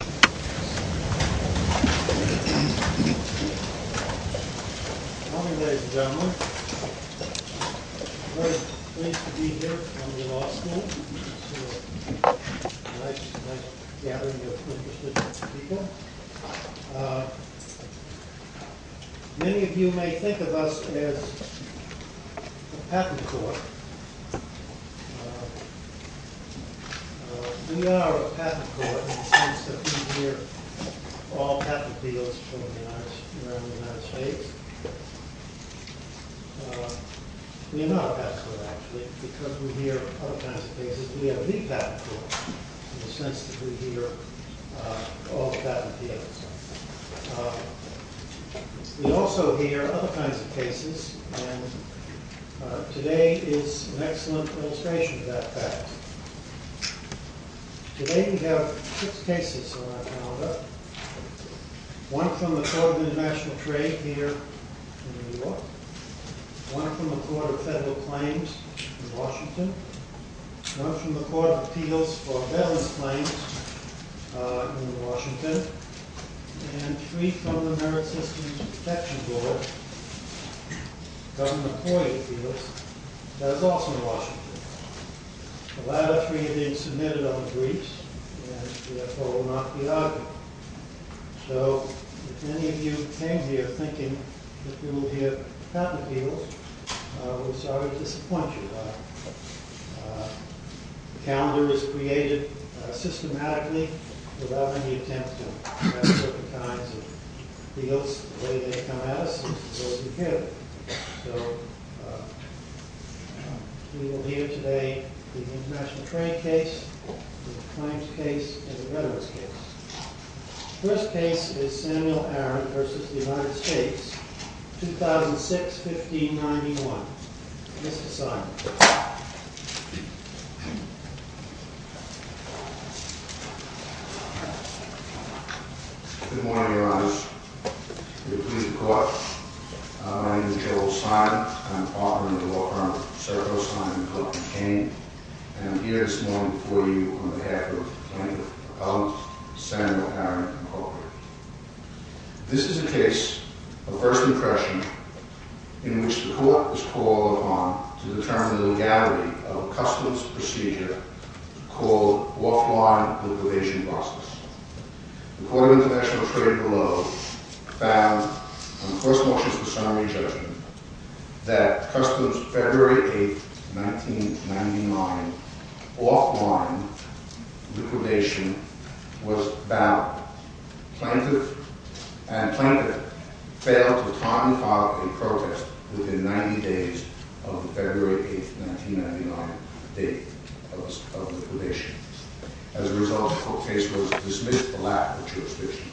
Welcome ladies and gentlemen. I'm very pleased to be here at Columbia Law School. It's a nice gathering of interested people. Many of you may think of us as a patent court. We are a patent court in the sense that we hear all patent deals from the United States. We are not a patent court, actually, because we hear all kinds of cases, but we are the patent court in the sense that we hear all patent deals. We also hear other kinds of cases, and today is an excellent illustration of that fact. Today we have six cases on our calendar, one from the Court of International Trade here in New York, one from the Court of Federal Claims in Washington, one from the Court of Appeals for Veterans Claims in Washington, and three from the Merit Systems Protection Board, Governor McCoy Appeals, that is also in Washington. The latter three have been submitted on briefs and therefore will not be argued. So if any of you came here thinking that we will hear patent appeals, we're sorry to disappoint you. The calendar was created systematically without any attempt to address certain kinds of deals the way they come at us and to those who hear them. So we will hear today the international trade case, the claims case, and the veterans case. The first case is Samuel Aaron versus the United States, 2006-1591. Mr. Simon. Good morning, Your Honors. Good morning. I'm Joe Simon. I'm the author of the law firm Serco, Simon, Cook & Kane, and I'm here this morning before you on behalf of Plaintiff Appellants, Samuel Aaron, Inc. This is a case of first impression in which the court was called upon to determine the legality of a customs procedure called offline liquidation process. The Court of International Trade below found, on first motions to summary judgment, that customs February 8, 1999, offline liquidation was valid. Plaintiff and Plaintiff failed to time and file a protest within 90 days of the February 8, 1999 date of liquidation. As a result, the court case was dismissed alack of jurisdiction.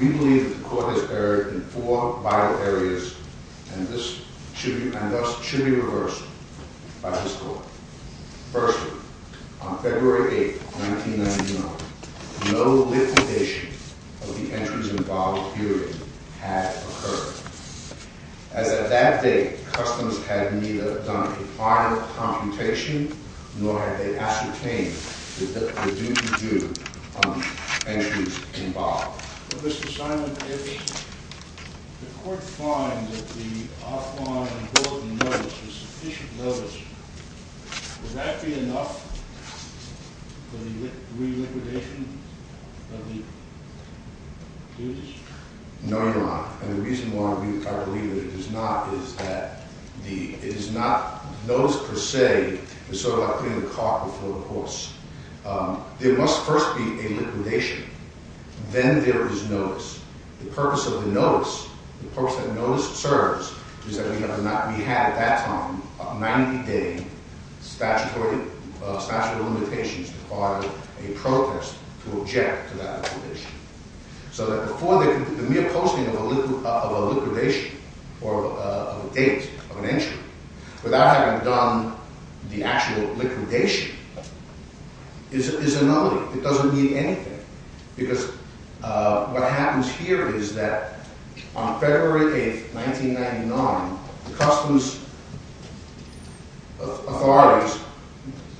We believe that the court has erred in four vital areas and thus should be reversed by this court. Firstly, on February 8, 1999, no liquidation of the entries involved period had occurred. As of that date, customs had neither done a prior computation nor had they ascertained the duty due on the entries involved. Mr. Simon, if the court finds that the offline bulletin notice is sufficient notice, would that be enough for the reliquidation of the duties? No, Your Honor. And the reason why I believe it is not is that it is not notice per se. It's sort of like putting a cart before the horse. There must first be a liquidation. Then there is notice. The purpose of the notice, the purpose that notice serves, is that we have at that time, a 90-day statute of limitations to file a protest to object to that liquidation. So that before the mere posting of a liquidation or a date of an entry, without having done the actual liquidation, is a nullity. It doesn't mean anything. Because what happens here is that on February 8, 1999, the customs authorities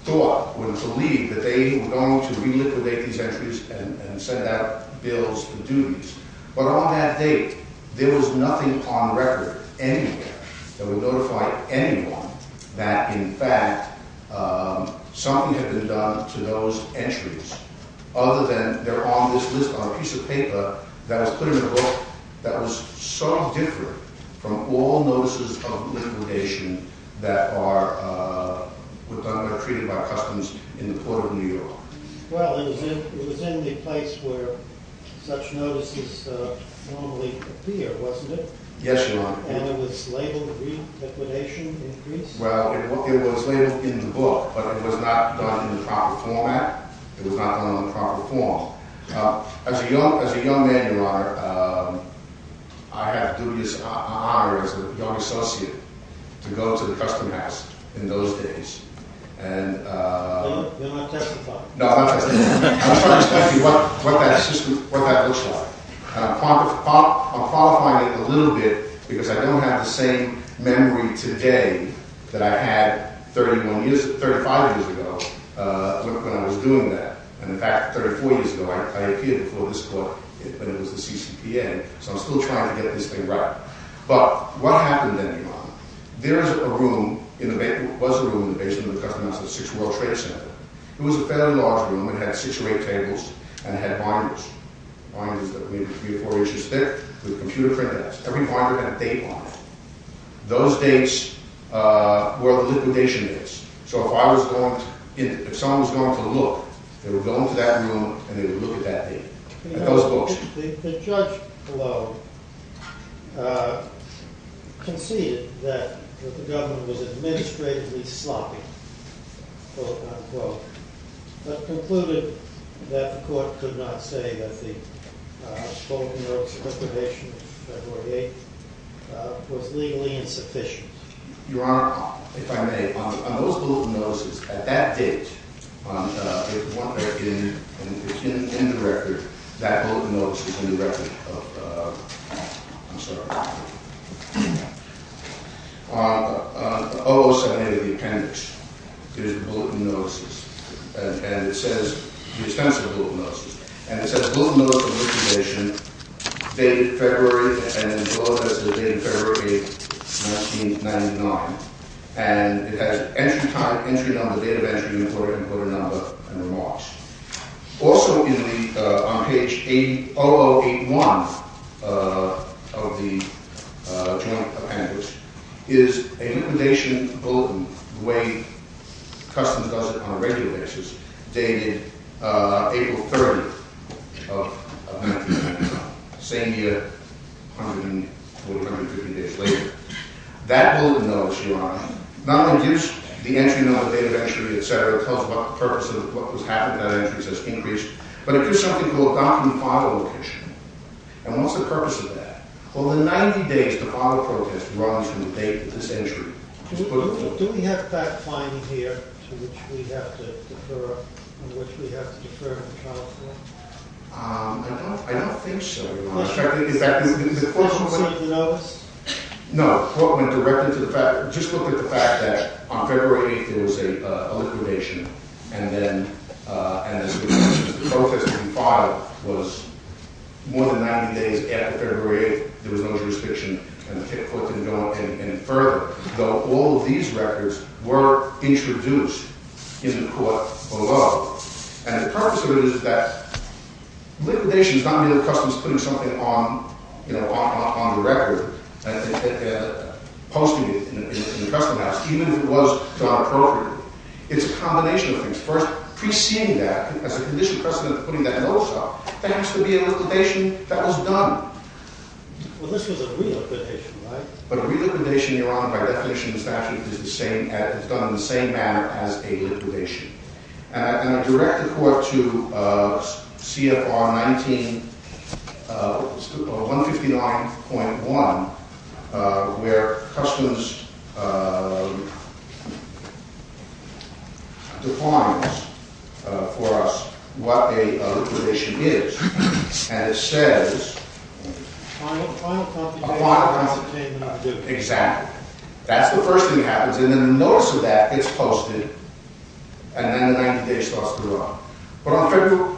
thought, would believe, that they were going to reliquidate these entries and send out bills and duties. But on that date, there was nothing on record anywhere that would notify anyone that, in fact, something had been done to those entries. Other than they're on this list on a piece of paper that was put in a book that was so different from all notices of liquidation that are treated by customs in the court of New York. Well, it was in the place where such notices normally appear, wasn't it? Yes, Your Honor. And it was labeled, Re-liquidation Increase? Well, it was labeled in the book. But it was not done in the proper format. It was not done in the proper form. As a young man, Your Honor, I have a dubious honor as a young associate to go to the Custom House in those days. And you're not testifying? No, I'm not testifying. I'm just trying to tell you what that system, what that looks like. And I'm qualifying it a little bit because I don't have the same memory today that I had 31 years, 35 years ago when I was doing that. And, in fact, 34 years ago, I appeared before this court when it was the CCPN. So I'm still trying to get this thing right. But what happened then, Your Honor? There was a room in the basement of the Custom House, the Sixth World Trade Center. It was a fairly large room. It had six or eight tables, and it had binders. Binders that would be three or four inches thick with computer printouts. Every binder had a date on it. Those dates were the liquidation dates. So if someone was going to look, they would go into that room, and they would look at that date, at those books. The judge below conceded that the government was administratively sloppy, quote unquote, but concluded that the court could not say that the open notes liquidation of February 8th was legally insufficient. Your Honor, if I may, on those bulletin notices, at that date, it's in the record, that open notice is in the record of, I'm sorry, 007A of the appendix. It is the bulletin notices. And it says, the expense of the bulletin notices. And it says, bulletin notice of liquidation dated February, and the bulletin notice is dated February 8th, 1999. And it has entry time, entry number, date of entry, and a quarter number, and remarks. Also on page 0081 of the joint appendix is a liquidation bulletin, the way customs does it on a regular basis, dated April 30th of 1999. Same year, 150 days later. That bulletin notice, Your Honor, not only gives the entry number, date of entry, etc., tells about the purpose of what was happening, that entry says increased, but it gives something called document auto liquidation. And what's the purpose of that? Well, in 90 days, the auto protest runs from the date of this entry. Do we have that finding here, to which we have to defer, in which we have to defer in the trial court? I don't think so, Your Honor. No, the court went directly to the fact, just look at the fact that on February 8th, there was a liquidation, and then the protest that we filed was more than 90 days after February 8th. There was no jurisdiction, and the court didn't go any further, though all of these records were introduced in the court below. And the purpose of it is that liquidation is not merely customs putting something on the record, posting it in the Customs Office, even if it was done appropriately. It's a combination of things. First, pre-seeing that as a conditional precedent for putting that notice up, that has to be a liquidation that was done. Well, this was a re-liquidation, right? But a re-liquidation, Your Honor, by definition in the statute, is done in the same manner as a liquidation. And a direct report to CFR 159.1, where customs defines for us what a liquidation is, and it says... A final copy... Exactly. That's the first thing that happens, and then the notice of that gets posted, and then 90 days starts to run. But on February...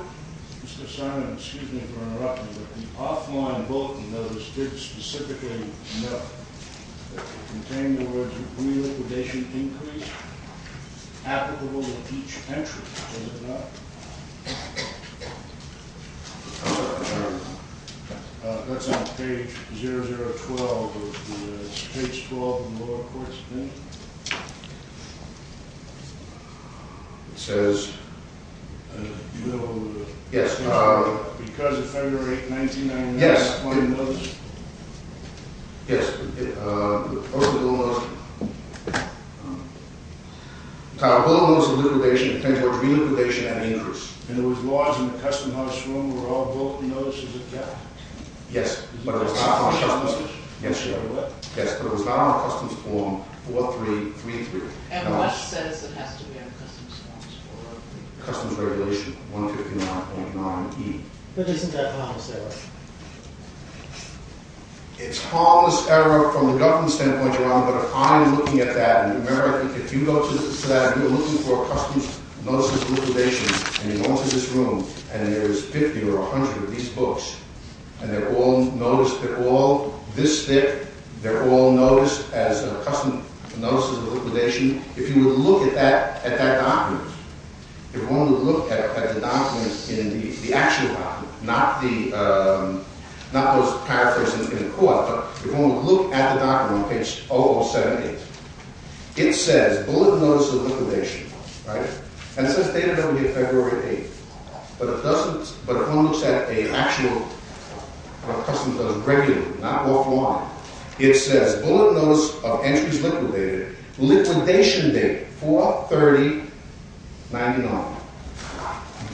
Mr. Simon, excuse me for interrupting, but the offline book notice didn't specifically note that it contained the words, increase applicable to each entry, does it not? That's on page 0012 of the State's 12th and lower court's opinion. It says... Do you know... Yes. Because of February 8th, 1999... Yes. Yes. A bulletin notice of liquidation contains the words re-liquidation and increase. And it was lodged in the customs notice room where all bulletin notices were kept? Yes, but it was not on a customs form. Yes, Your Honor. Yes, but it was not on a customs form 4333. And what says it has to be on a customs form? Customs regulation 159.9E. But isn't that harmless error? It's harmless error from the government standpoint, Your Honor, but if I'm looking at that... Remember, if you go to the slab, you're looking for customs notices of liquidation, and you go into this room, and there's 50 or 100 of these books, and they're all this thick, they're all noticed as customs notices of liquidation, if you would look at that document, if you want to look at the document in the actual document, not those paraphrased in the court, but if you want to look at the document on page 0078, it says bulletin notice of liquidation, right? And it says dated February 8th. But if one looks at an actual customs notice regularly, not off line, it says bulletin notice of entries liquidated, liquidation date, 4-30-99.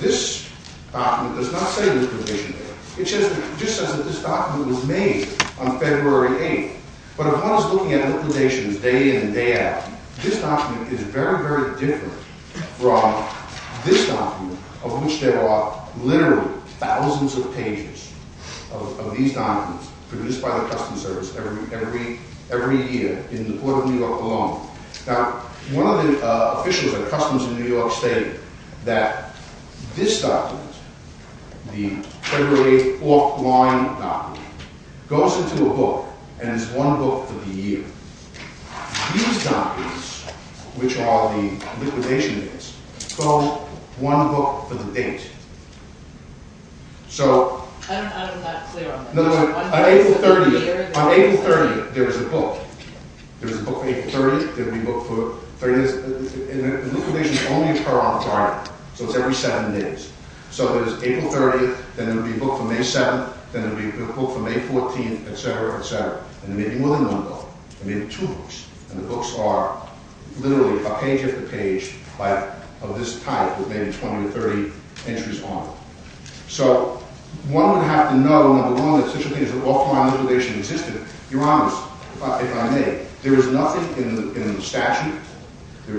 This document does not say liquidation date. It just says that this document was made on February 8th. But if one is looking at liquidations day in and day out, this document is very, very different from this document, of which there are literally thousands of pages of these documents produced by the Customs Service every year in the Court of New York alone. Now, one of the officials at Customs in New York State, that this document, the February 8th off line document, goes into a book and is one book for the year. These documents, which are the liquidation dates, go one book for the date. So... I'm not clear on that. On April 30th, there is a book. There is a book for April 30th. There will be a book for 30 days. Liquidations only occur on Friday. So it's every seven days. So there's April 30th. Then there will be a book for May 7th. Then there will be a book for May 14th, et cetera, et cetera. And there may be more than one book. There may be two books. And the books are literally a page after page of this type with maybe 20 or 30 entries on them. So one would have to know, number one, that such a thing as an off-line liquidation existed. Your Honor, if I may, there is nothing in the statute,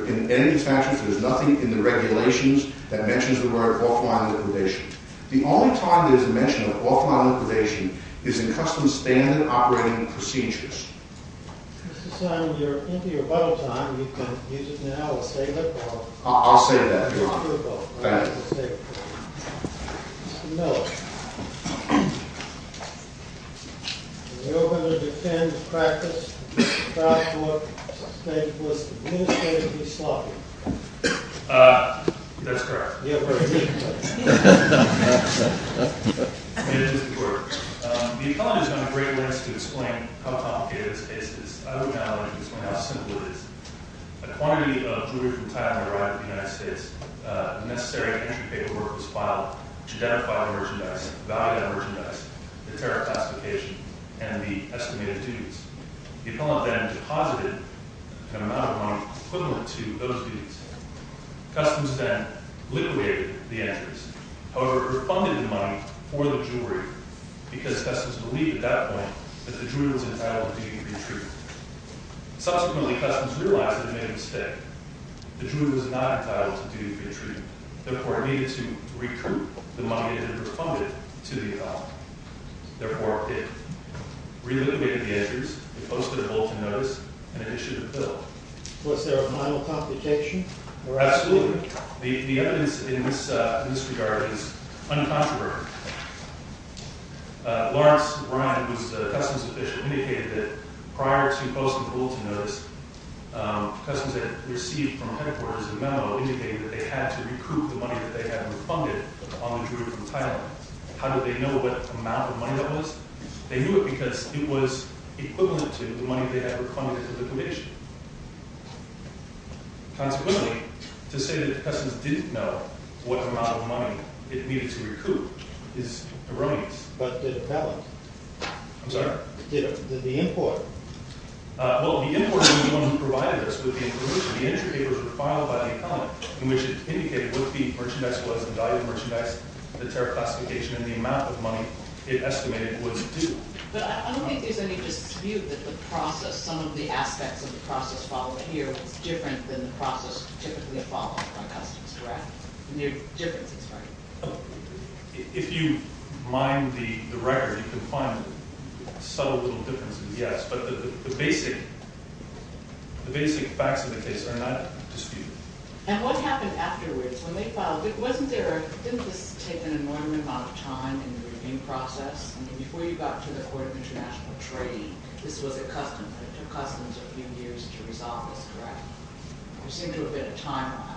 in any of the statutes, there's nothing in the regulations that mentions the word off-line liquidation. The only time there's a mention of off-line liquidation is in Customs Standard Operating Procedures. Mr. Simon, you're into your bubble time. You can use it now or save it or... I'll save that. Go ahead. Mr. Miller. In the Open and Defend practice, the draft book states, was the new state to be sloppy? That's correct. You have to repeat the question. It is the word. The economist has done a great list to explain how complicated this case is. I would not like to explain how simple it is. A quantity of jewelry from Thailand arrived in the United States. The necessary entry paperwork was filed to identify the merchandise, the value of the merchandise, the tariff classification, and the estimated duties. The appellant then deposited an amount of money equivalent to those duties. Customs then liquidated the entries. However, it refunded the money for the jewelry because Customs believed at that point that the jewelry was entitled to be retrieved. Subsequently, Customs realized they made a mistake. The jewelry was not entitled to be retrieved. Therefore, it needed to recoup the money that it had refunded to the appellant. Therefore, it reliquitated the entries, it posted a bulletin notice, and it issued a bill. Was there a minor complication? Absolutely. The evidence in this regard is uncontroversial. Lawrence Ryan, who is the Customs official, indicated that prior to posting the bulletin notice, Customs had received from headquarters a memo indicating that they had to recoup the money that they had refunded on the jewelry from Thailand. How did they know what amount of money that was? They knew it because it was equivalent to the money they had refunded at the liquidation. Consequently, to say that Customs didn't know what amount of money it needed to recoup is erroneous. But did the appellant? I'm sorry? Did the import? Well, the import was the one who provided us with the information. The entry papers were filed by the appellant, in which it indicated what the merchandise was, the value of the merchandise, the tariff classification, and the amount of money it estimated was due. But I don't think there's any dispute that the process, some of the aspects of the process followed here, was different than the process typically followed by Customs, correct? There are differences, right? If you mine the record, you can find subtle little differences, yes. But the basic facts of the case are not disputed. And what happened afterwards, when they filed, didn't this take an enormous amount of time in the review process? Before you got to the Court of International Trade, this was at Customs, and it took Customs a few years to resolve this, correct? There seemed to have been a timeline.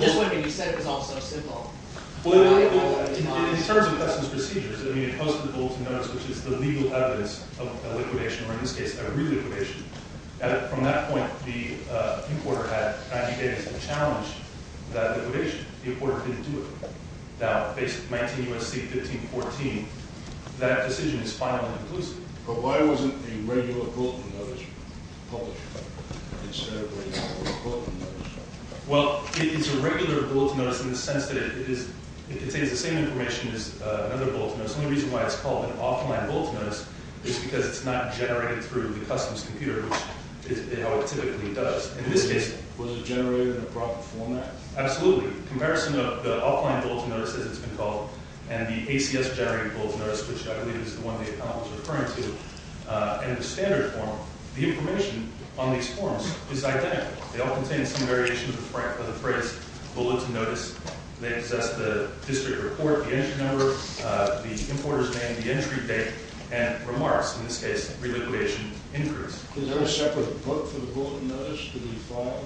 Just when you said it was all so simple. Well, in terms of Customs procedures, I mean, it posted the Golden Notice, which is the legal evidence of a liquidation, or in this case, a reliquidation. From that point, the importer had advocated to challenge that liquidation. The importer couldn't do it. Now, based on 19 U.S.C. 1514, that decision is finally inclusive. But why wasn't the regular Golden Notice published instead of the regular Bulletin Notice? Well, it's a regular Bulletin Notice in the sense that it contains the same information as another Bulletin Notice. The only reason why it's called an Offline Bulletin Notice is because it's not generated through the Customs computer, which is how it typically does. In this case, was it generated in the proper format? Absolutely. Comparison of the Offline Bulletin Notice, as it's been called, and the ACS-generated Bulletin Notice, which I believe is the one the appellant was referring to, in the standard form, the information on these forms is identical. They all contain some variation of the phrase Bulletin Notice. They possess the district report, the entry number, the importer's name, the entry date, and remarks. In this case, reliquidation increase. Is there a separate book for the Bulletin Notice to be filed?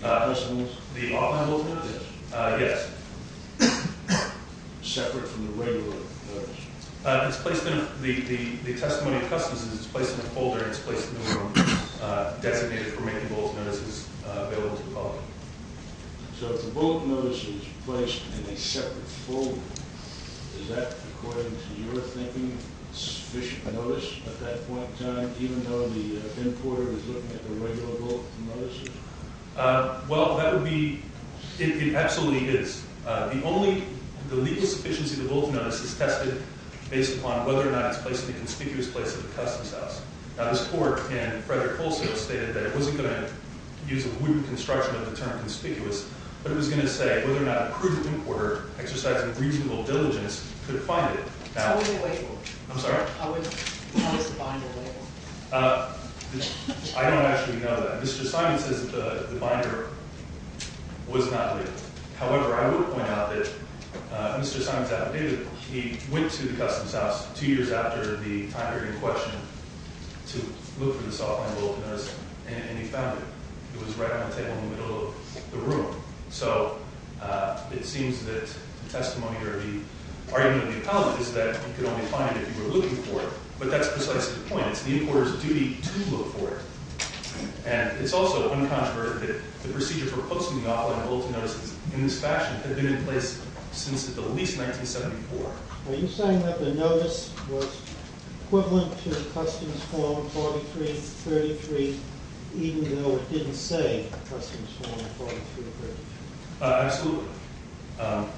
The Offline Bulletin Notice? Yes. Separate from the regular Bulletin Notice? It's placed in the testimony of customs and it's placed in a folder and it's placed in a designated for making Bulletin Notices available to the public. So if the Bulletin Notice is placed in a separate folder, is that, according to your thinking, sufficient notice at that point in time, even though the importer is looking at the regular Bulletin Notice? Well, that would be... It absolutely is. The legal sufficiency of the Bulletin Notice is tested based upon whether or not it's placed in the conspicuous place of the customs house. Now, this court, in Frederick Folsom, stated that it wasn't going to use a wooden construction of the term conspicuous, but it was going to say whether or not a prudent importer, exercising reasonable diligence, could find it. How would they label it? I'm sorry? How is the binder labeled? I don't actually know that. Mr. Simon says that the binder was not labeled. However, I would point out that Mr. Simon's affidavit, he went to the customs house two years after the time period in question to look for this Offline Bulletin Notice, and he found it. It was right on the table in the middle of the room. So, it seems that the testimony or the argument of the appellant is that you could only find it if you were looking for it. But that's precisely the point. It's the importer's duty to look for it. And it's also uncontroverted that the procedure for posting the Offline Bulletin Notice in this fashion had been in place since at the least 1974. Are you saying that the notice was equivalent to Customs Form 4333 even though it didn't say Customs Form 4333? Absolutely.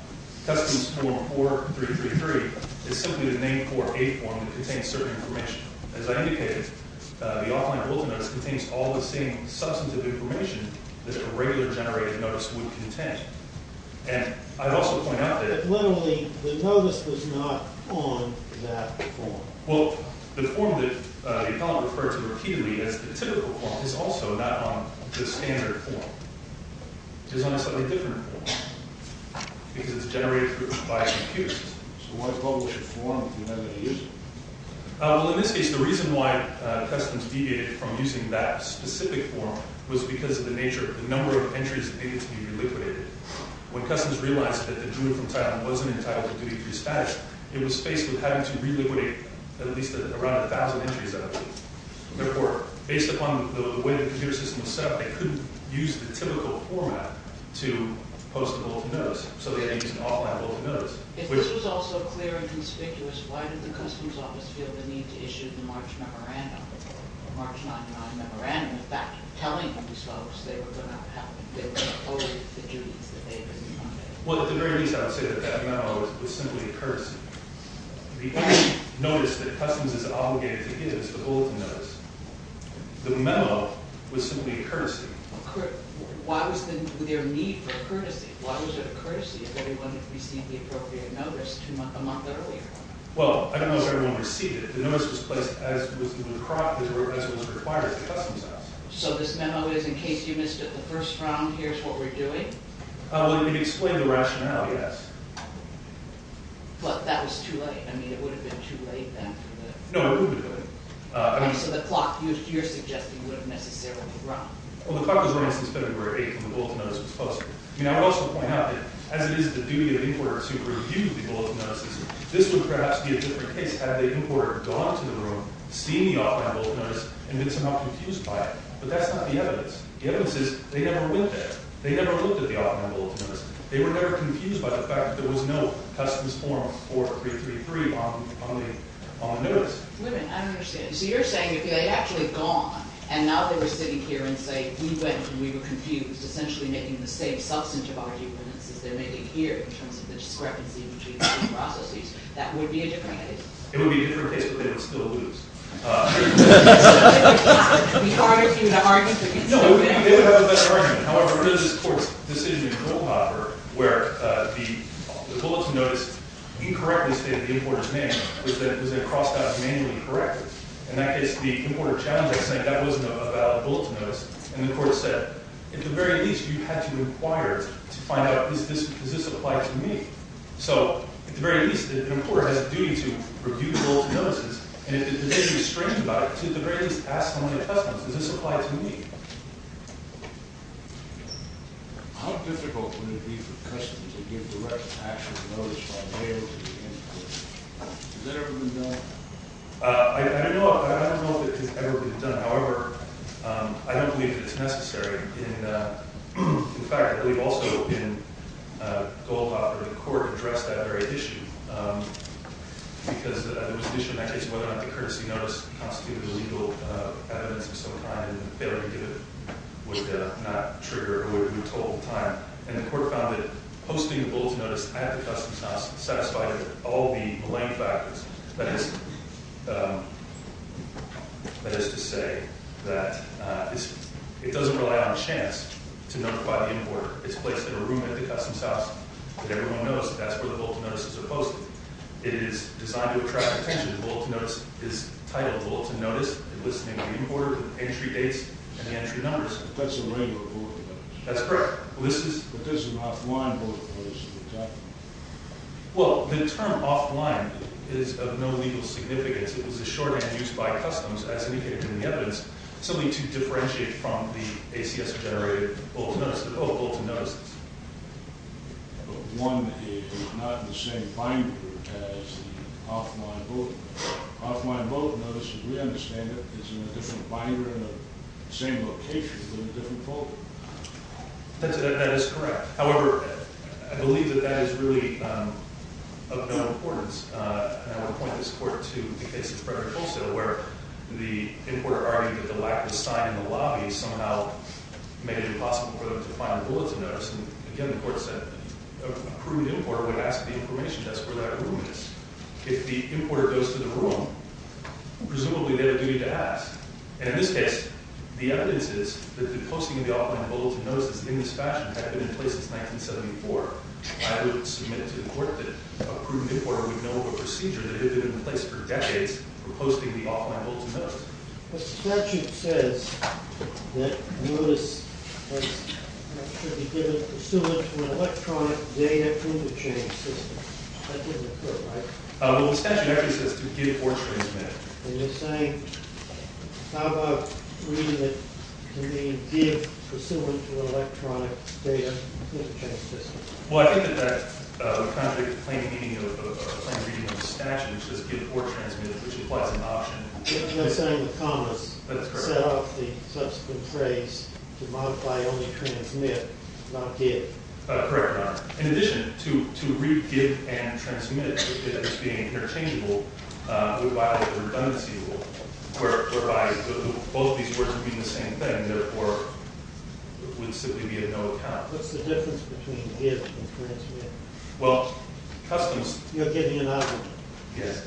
Customs Form 4333 is simply the name for a form that contains certain information. As I indicated, the Offline Bulletin Notice contains all the same substantive information that a regular generated notice would contain. And I'd also point out that... Well, the form that the appellant referred to repeatedly as the typical form is also not on the standard form. It's on a slightly different form because it's generated by a computer system. Well, in this case, the reason why Customs deviated from using that specific form was because of the nature of the number of entries that needed to be reliquidated. When Customs realized that the Jew from Thailand wasn't entitled to duty to be dispatched, it was faced with having to reliquidate at least around 1,000 entries that were required. Based upon the way the computer system was set up, they couldn't use the typical format to post a Bulletin Notice, so they used an Offline Bulletin Notice. If this was all so clear and conspicuous, why did the Customs Office feel the need to issue the March 99 Memorandum in fact telling these folks they were going to owe the duties that they had been demanded? Well, at the very least, I would say that that memo was simply a courtesy. The only notice that Customs is obligated to give is the Bulletin Notice. The memo was simply a courtesy. Why was there a need for courtesy? Why was it a courtesy if everyone had received the appropriate notice two months, a month earlier? Well, I don't know if everyone received it. The notice was placed as was required by the Customs Office. So this memo is, in case you missed it the first round, here's what we're doing? Well, it did explain the rationale, yes. But that was too late. I mean, it would have been too late then. No, it would have been too late. And so the clock, you're suggesting, would have necessarily run. Well, the clock was running since February 8th when the Bulletin Notice was posted. I would also point out that, as it is the duty of importers who review the Bulletin Notices, this would perhaps be a different case had the importer gone to the room, seen the Offline Bulletin Notice, and been somehow confused by it. But that's not the evidence. The evidence is they never went there. They never looked at the Offline Bulletin Notice. They were never confused by the fact that there was no Customs Form 4333 on the notice. Wait a minute, I don't understand. So you're saying if they had actually gone, and now they were sitting here and say, we went and we were confused, essentially making the same substantive arguments as they're making here in terms of the discrepancy between the two processes, that would be a different case? It would be a different case, but they would still lose. Would it be harder for you to argue? No, they would have a better argument. However, there's this court's decision in Kohlhafer where the Bulletin Notice incorrectly stated the importer's name, was then crossed out as manually corrected. In that case, the importer challenged it, saying that wasn't a valid Bulletin Notice. And the court said, at the very least, you had to inquire to find out, does this apply to me? So at the very least, the importer has a duty to review the Bulletin Notices, and if there's anything strange about it, at the very least, ask one of the customers, does this apply to me? How difficult would it be for the customer to give the right action notice by mail to the importer? Has that ever been done? I don't know if it has ever been done. However, I don't believe it's necessary. In fact, I believe also in Kohlhafer, the court addressed that very issue because there was an issue in that case whether or not the courtesy notice constituted legal evidence of some kind, and the failure to do it would not trigger or would remove total time. And the court found that posting a Bulletin Notice at the customs house satisfied all the malign factors. That is to say that it doesn't rely on chance to notify the importer. It's placed in a room at the customs house that everyone knows that that's where the Bulletin Notices are posted. It is designed to attract attention. The Bulletin Notice is titled Bulletin Notice and lists the name of the importer, the entry dates, and the entry numbers. That's correct. Well, the term offline is of no legal significance. It was a shorthand used by customs as indicated in the evidence simply to differentiate from the ACS-generated Bulletin Notice, both Bulletin Notices. It's not the same binder as the offline Bulletin Notice. Offline Bulletin Notice, as we understand it, is in a different binder in the same location in a different folder. That is correct. However, I believe that that is really of no importance. And I want to point this court to the case of Frederick Colesdale where the importer argued that the lack of a sign in the lobby somehow made it impossible for them to find a Bulletin Notice. And again, the court said that a prudent importer would ask the information desk where that room is. If the importer goes to the room, presumably they would do it to ask. And in this case, the evidence is that the posting of the offline Bulletin Notice in this fashion had been in place since 1974. I would submit to the court that a prudent importer would know of a procedure that had been in place for decades for posting the offline Bulletin Notice. The statute says that notice should be given pursuant to an electronic data proof-of-change system. That didn't occur, right? Well, the statute actually says to give or transmit. And you're saying how about reading it to mean give pursuant to an electronic data proof-of-change system? Well, I think that that contradicts the plain reading of the statute which says give or transmit which implies an option. You're saying the commas set off the subsequent phrase to modify only transmit not give. Correct, Your Honor. In addition, to read give and transmit as being interchangeable would violate the redundancy rule whereby both these words would mean the same thing and therefore would simply be a no account. What's the difference between give and transmit? Well, customs... You're giving an idea. Yes.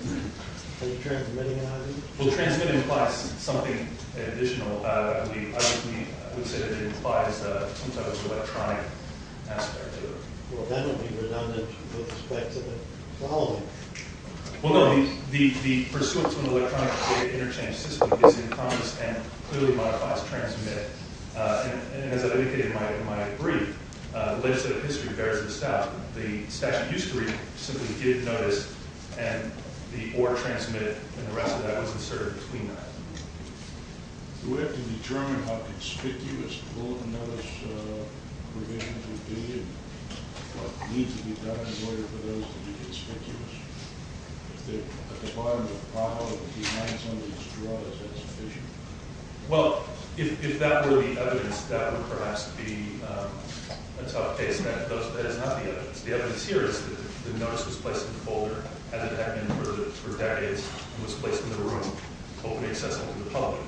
Are you transmitting an idea? Well, transmitting implies something additional. I would say that it implies sometimes an electronic aspect to it. Well, that would be redundant with respect to the following. Well, no. The pursuant to an electronic data interchange system is in commas and clearly modifies transmit. And as I indicated in my brief the legislative history bears this out. The statute used to read simply give notice and the or transmit and the rest of that was inserted between that. Do we have to determine how conspicuous bulletin notice provisions would be and what needs to be done in order for those to be conspicuous? If they're at the bottom of the pile or behind some of these drawers that's sufficient? Well, if that were the evidence that would perhaps be a tough case and that is not the evidence. The evidence here is that the notice was placed in the folder as it had been for decades and was placed in the room openly accessible to the public.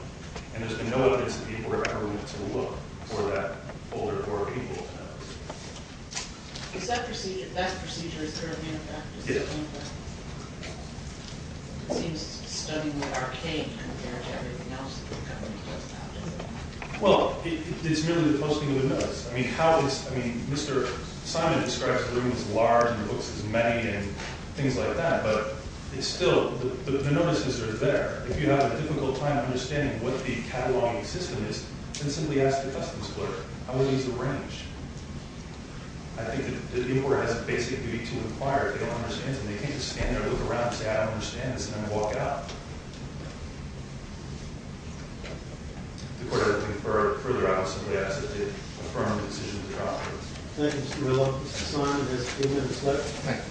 And there's been no evidence that people have ever went to look for that folder or people's notes. Is that procedure is there a main practice? Yes. It seems to be studying the arcade compared to everything else that the government does now. Well, it's merely the posting of the notice. I mean, how is I mean, Mr. Simon describes the room as large and the books as many and things like that but it's still the notices are there. If you have a difficult time understanding what the cataloging system is then simply ask the customs clerk. I will use the range. I think that the court has a basic duty to inquire if they don't understand and they can't just stand there and look around and say I don't understand this and then walk out. If the court had to go further I would simply ask that they affirm the decision of the trial. Thank you, Mr. Miller. Mr. Simon has the floor. Thank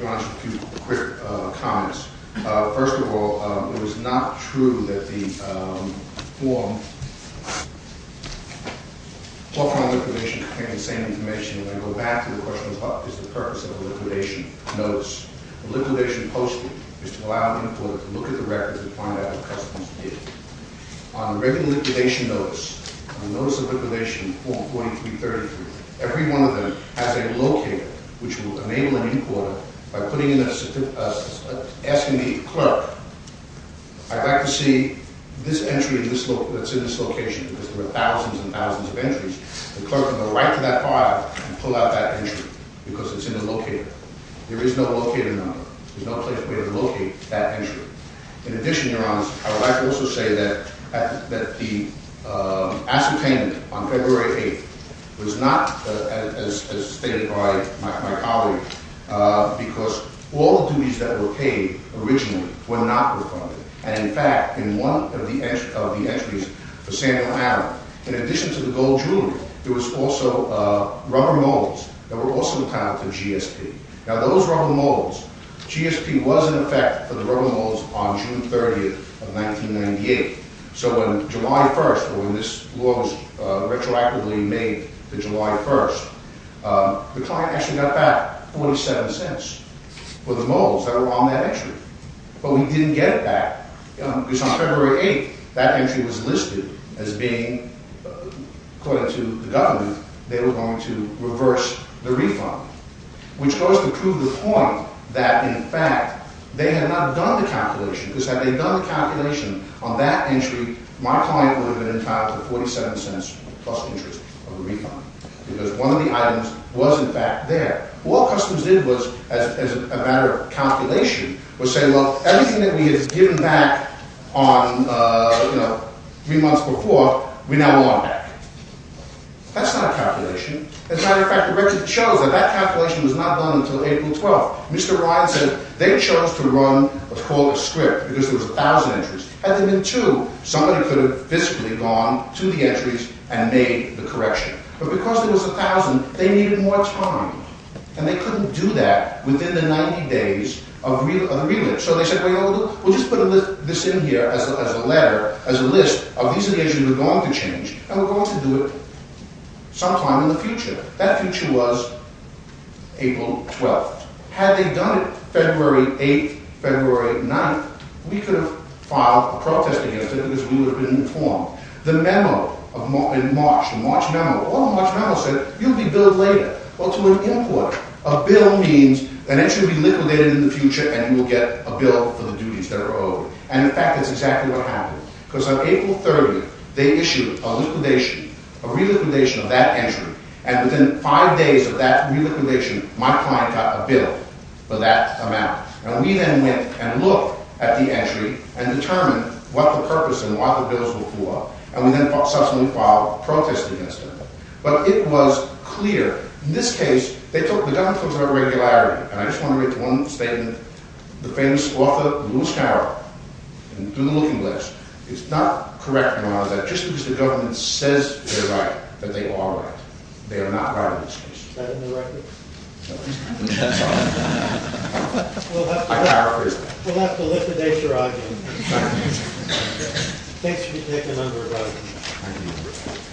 you. Your Honor, just a few quick comments. First of all, it was not true that the form Portfolio Liquidation contained the same information. And I go back to the question of what is the purpose of a liquidation notice. A liquidation posting is to allow an employer to look at the records and find out what customs did. On a regular liquidation notice on a notice of liquidation form 4333 every month, every one of them has a locator which will enable an employer by putting in a certificate asking the clerk I'd like to see this entry that's in this location because there are thousands and thousands of entries. The clerk can go right to that file and pull out that entry because it's in the locator. There is no locator number. There's no way to locate that entry. In addition, Your Honor, I would like to also say that the ascertainment on February 8th was not as stated by my colleague because all the duties that were paid originally were not refunded. And in fact, in one of the entries for Samuel Adams, in addition to the gold jewelry, there was also rubber molds that were also entitled to GSP. Now those rubber molds, GSP was in effect for the rubber molds on June 30th of 1998. So on July 1st, when this law was retroactively made to July 1st, the client actually got back 47 cents for the molds that were on that entry. But we didn't get it back because on February 8th that entry was listed as being, according to the government, they were going to reverse the refund. Which goes to prove the point that in fact they had not done the calculation because had they done the calculation on that entry, my client would have been entitled to the 47 cents plus interest on the refund because one of the items was in fact there. What Customs did was, as a matter of calculation, was say, well, everything that we had given back on three months before, we now want back. That's not a calculation. As a matter of fact, the record shows that that calculation was not done until April 12th. Mr. Ryan said they chose to run what's called a script because there was a thousand entries. Had there been two, somebody could have fiscally gone to the entries and made the correction. But because there was a thousand, they needed more time. And they couldn't do that within the 90 days of the relit. So they said, well, you know what we'll do? We'll just put this in here as a letter, as a list of these are the entries we're going to change and we're going to do it sometime in the future. That future was April 12th. Had they done it February 8th, February 9th, we could have filed a protest against it because we would have been informed. The memo in March, the March memo, all the March memos said you'll be billed later. Well, to an import, a bill means an entry will be liquidated in the future and you will get a bill for the duties that are owed. And in fact, that's exactly what happened. Because on April 30th, they issued a liquidation, a reliquidation of that entry. And within five days of that reliquidation, my client got a bill for that amount. And we then went and looked at the entry and determined what the purpose and what the bills would do. And we then subsequently filed a protest against it. But it was clear. In this case, they took, the government took some regularity. And I just want to make one statement. The famous author, Lewis Carroll, through the looking glass, is not correct, Your Honor, just because the government says they're right, that they are right. They are not right in this case. Is that in the record? No. That's all. I paraphrased that. We'll have to liquidate your argument. We'll have to liquidate your argument. Thank you. Thanks for taking under